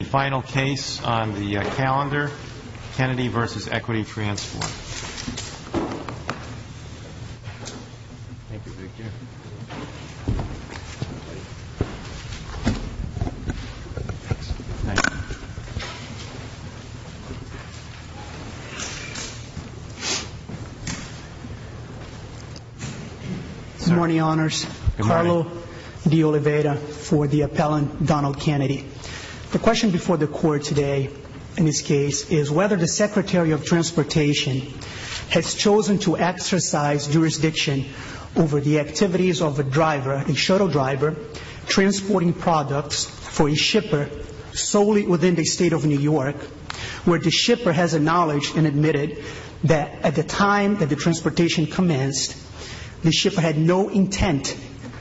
The final case on the calendar, Kennedy v. Equity Transport. Good morning, Honors. Carlo De Oliveira for the appellant Donald Kennedy. The question before the court today in this case is whether the Secretary of Transportation has chosen to exercise jurisdiction over the activities of a driver, a shuttle driver, transporting products for a shipper solely within the state of New York, where the shipper has acknowledged and admitted that at the time that the transportation commenced, the shipper had no intent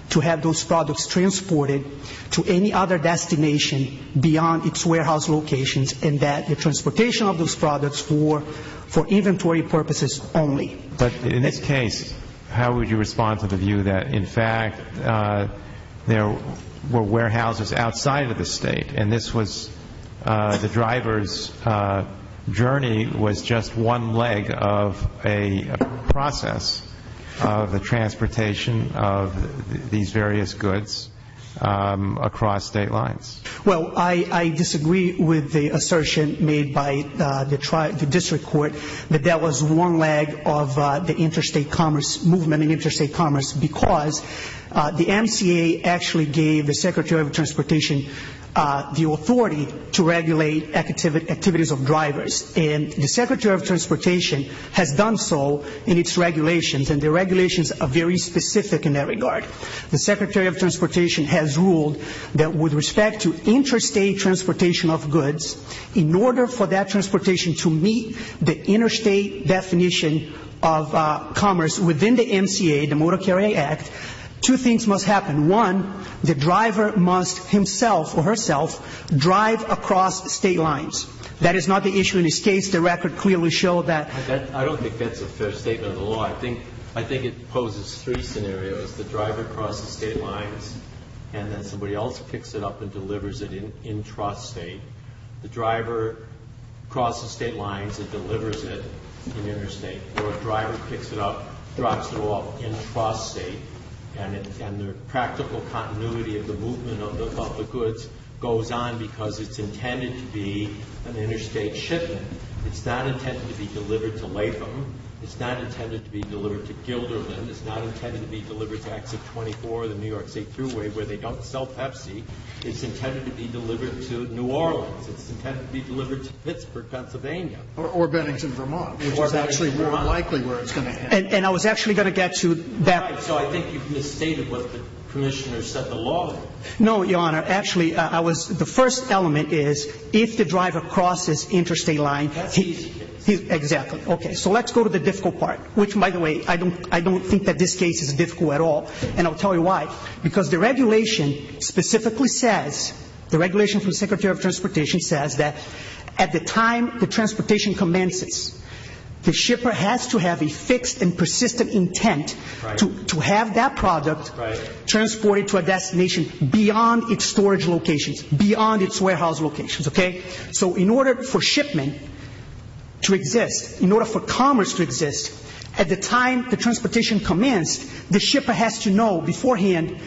to have those products transported to any other destination beyond its warehouse locations and that the transportation of those products were for inventory purposes only. But in this case, how would you respond to the view that, in fact, there were warehouses outside of the state and the driver's journey was just one leg of a process of the transportation of these various goods across state lines? Well, I disagree with the assertion made by the district court that that was one leg of the interstate commerce movement because the MCA actually gave the Secretary of Transportation the authority to regulate activities of drivers. And the Secretary of Transportation has done so in its regulations, and the regulations are very specific in that regard. The Secretary of Transportation has ruled that with respect to interstate transportation of goods, in order for that transportation to meet the interstate definition of commerce within the MCA, the Motor Carrier Act, two things must happen. One, the driver must himself or herself drive across state lines. That is not the issue in this case. The record clearly showed that. I don't think that's a fair statement of the law. I think it poses three scenarios, the driver crosses state lines, and then somebody else picks it up and delivers it in trust state. The driver crosses state lines and delivers it in interstate. Or a driver picks it up, drops it off in trust state, and the practical continuity of the movement of the goods goes on because it's intended to be an interstate shipment. It's not intended to be delivered to Latham. It's not intended to be delivered to Gilderland. It's not intended to be delivered to Exit 24, the New York State Thruway, where they don't sell Pepsi. It's intended to be delivered to New Orleans. It's intended to be delivered to Pittsburgh, Pennsylvania. Or Bennington, Vermont, which is actually more likely where it's going to end. And I was actually going to get to that. Right. So I think you've misstated what the Commissioner said the law is. No, Your Honor. Actually, I was the first element is if the driver crosses interstate line. That's the easy case. Exactly. So let's go to the difficult part, which, by the way, I don't think that this case is difficult at all. And I'll tell you why. Because the regulation specifically says, the regulation from the Secretary of Transportation says that at the time the transportation commences, the shipper has to have a fixed and persistent intent to have that product transported to a destination beyond its storage locations, beyond its warehouse locations, okay? So in order for shipment to exist, in order for commerce to exist, at the time the transportation commenced, the shipper has to know beforehand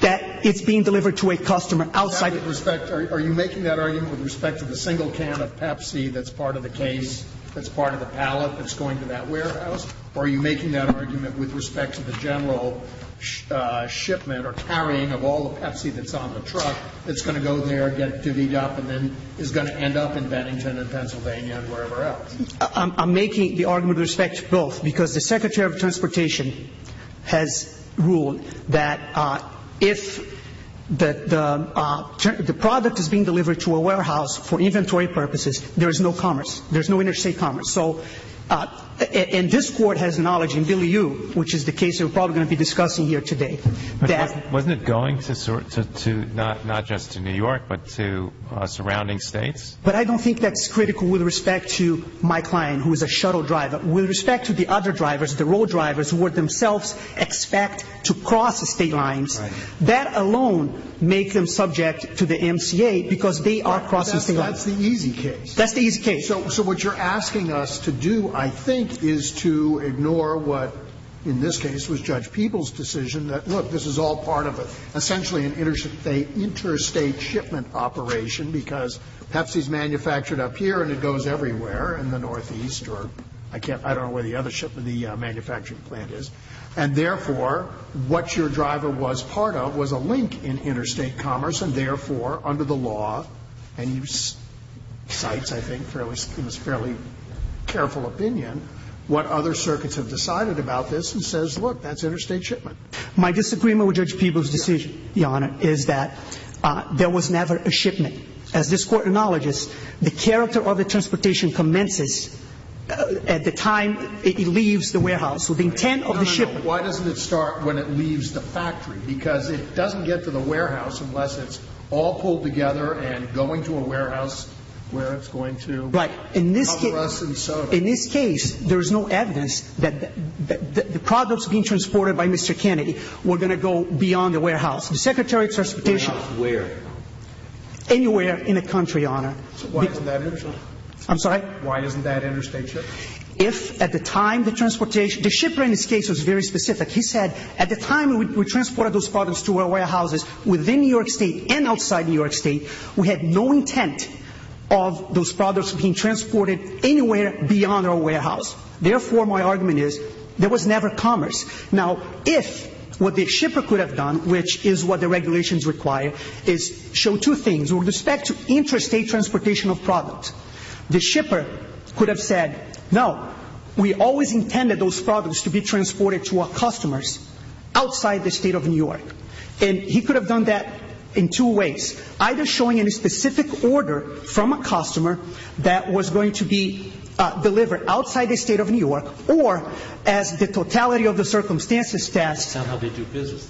that it's being delivered to a customer outside. Are you making that argument with respect to the single can of Pepsi that's part of the case, that's part of the pallet that's going to that warehouse? Or are you making that argument with respect to the general shipment or carrying of all the Pepsi that's on the truck that's going to go there, get to VDOP, and then is going to end up in Bennington and Pennsylvania and wherever else? I'm making the argument with respect to both, because the Secretary of Transportation has ruled that if the product is being delivered to a warehouse for inventory purposes, there is no commerce, there is no interstate commerce. And this Court has knowledge, and Billy Yu, which is the case that we're probably going to be discussing here today. Wasn't it going not just to New York, but to surrounding states? But I don't think that's critical with respect to my client, who is a shuttle driver. With respect to the other drivers, the road drivers, who would themselves expect to cross the state lines, that alone makes them subject to the MCA because they are crossing state lines. That's the easy case. That's the easy case. So what you're asking us to do, I think, is to ignore what, in this case, was Judge Peeble's decision, that, look, this is all part of essentially an interstate shipment operation because Pepsi is manufactured up here and it goes everywhere in the Northeast, or I don't know where the other shipment, the manufacturing plant is. And therefore, what your driver was part of was a link in interstate commerce, and therefore, under the law, and you cite, I think, in this fairly careful opinion, what other circuits have decided about this and says, look, that's interstate shipment. My disagreement with Judge Peeble's decision, Your Honor, is that there was never a shipment. As this Court acknowledges, the character of the transportation commences at the time it leaves the warehouse. So the intent of the shipment No, no, no. Why doesn't it start when it leaves the factory? Because it doesn't get to the warehouse unless it's all pulled together and going to a warehouse where it's going to cover us in soda. Right. In this case, there is no evidence that the products being transported by Mr. Kennedy were going to go beyond the warehouse. The Secretary of Transportation Warehouse where? Anywhere in the country, Your Honor. So why isn't that interstate? I'm sorry? Why isn't that interstate shipped? If at the time the transportation, the shipper in this case was very specific. He said at the time we transported those products to our warehouses within New York State and outside New York State, we had no intent of those products being transported anywhere beyond our warehouse. Therefore, my argument is there was never commerce. Now, if what the shipper could have done, which is what the regulations require, is show two things with respect to interstate transportation of products. The shipper could have said, no, we always intended those products to be transported to our customers outside the state of New York. And he could have done that in two ways. Either showing a specific order from a customer that was going to be delivered outside the state of New York or as the totality of the circumstances test. That's not how they do business.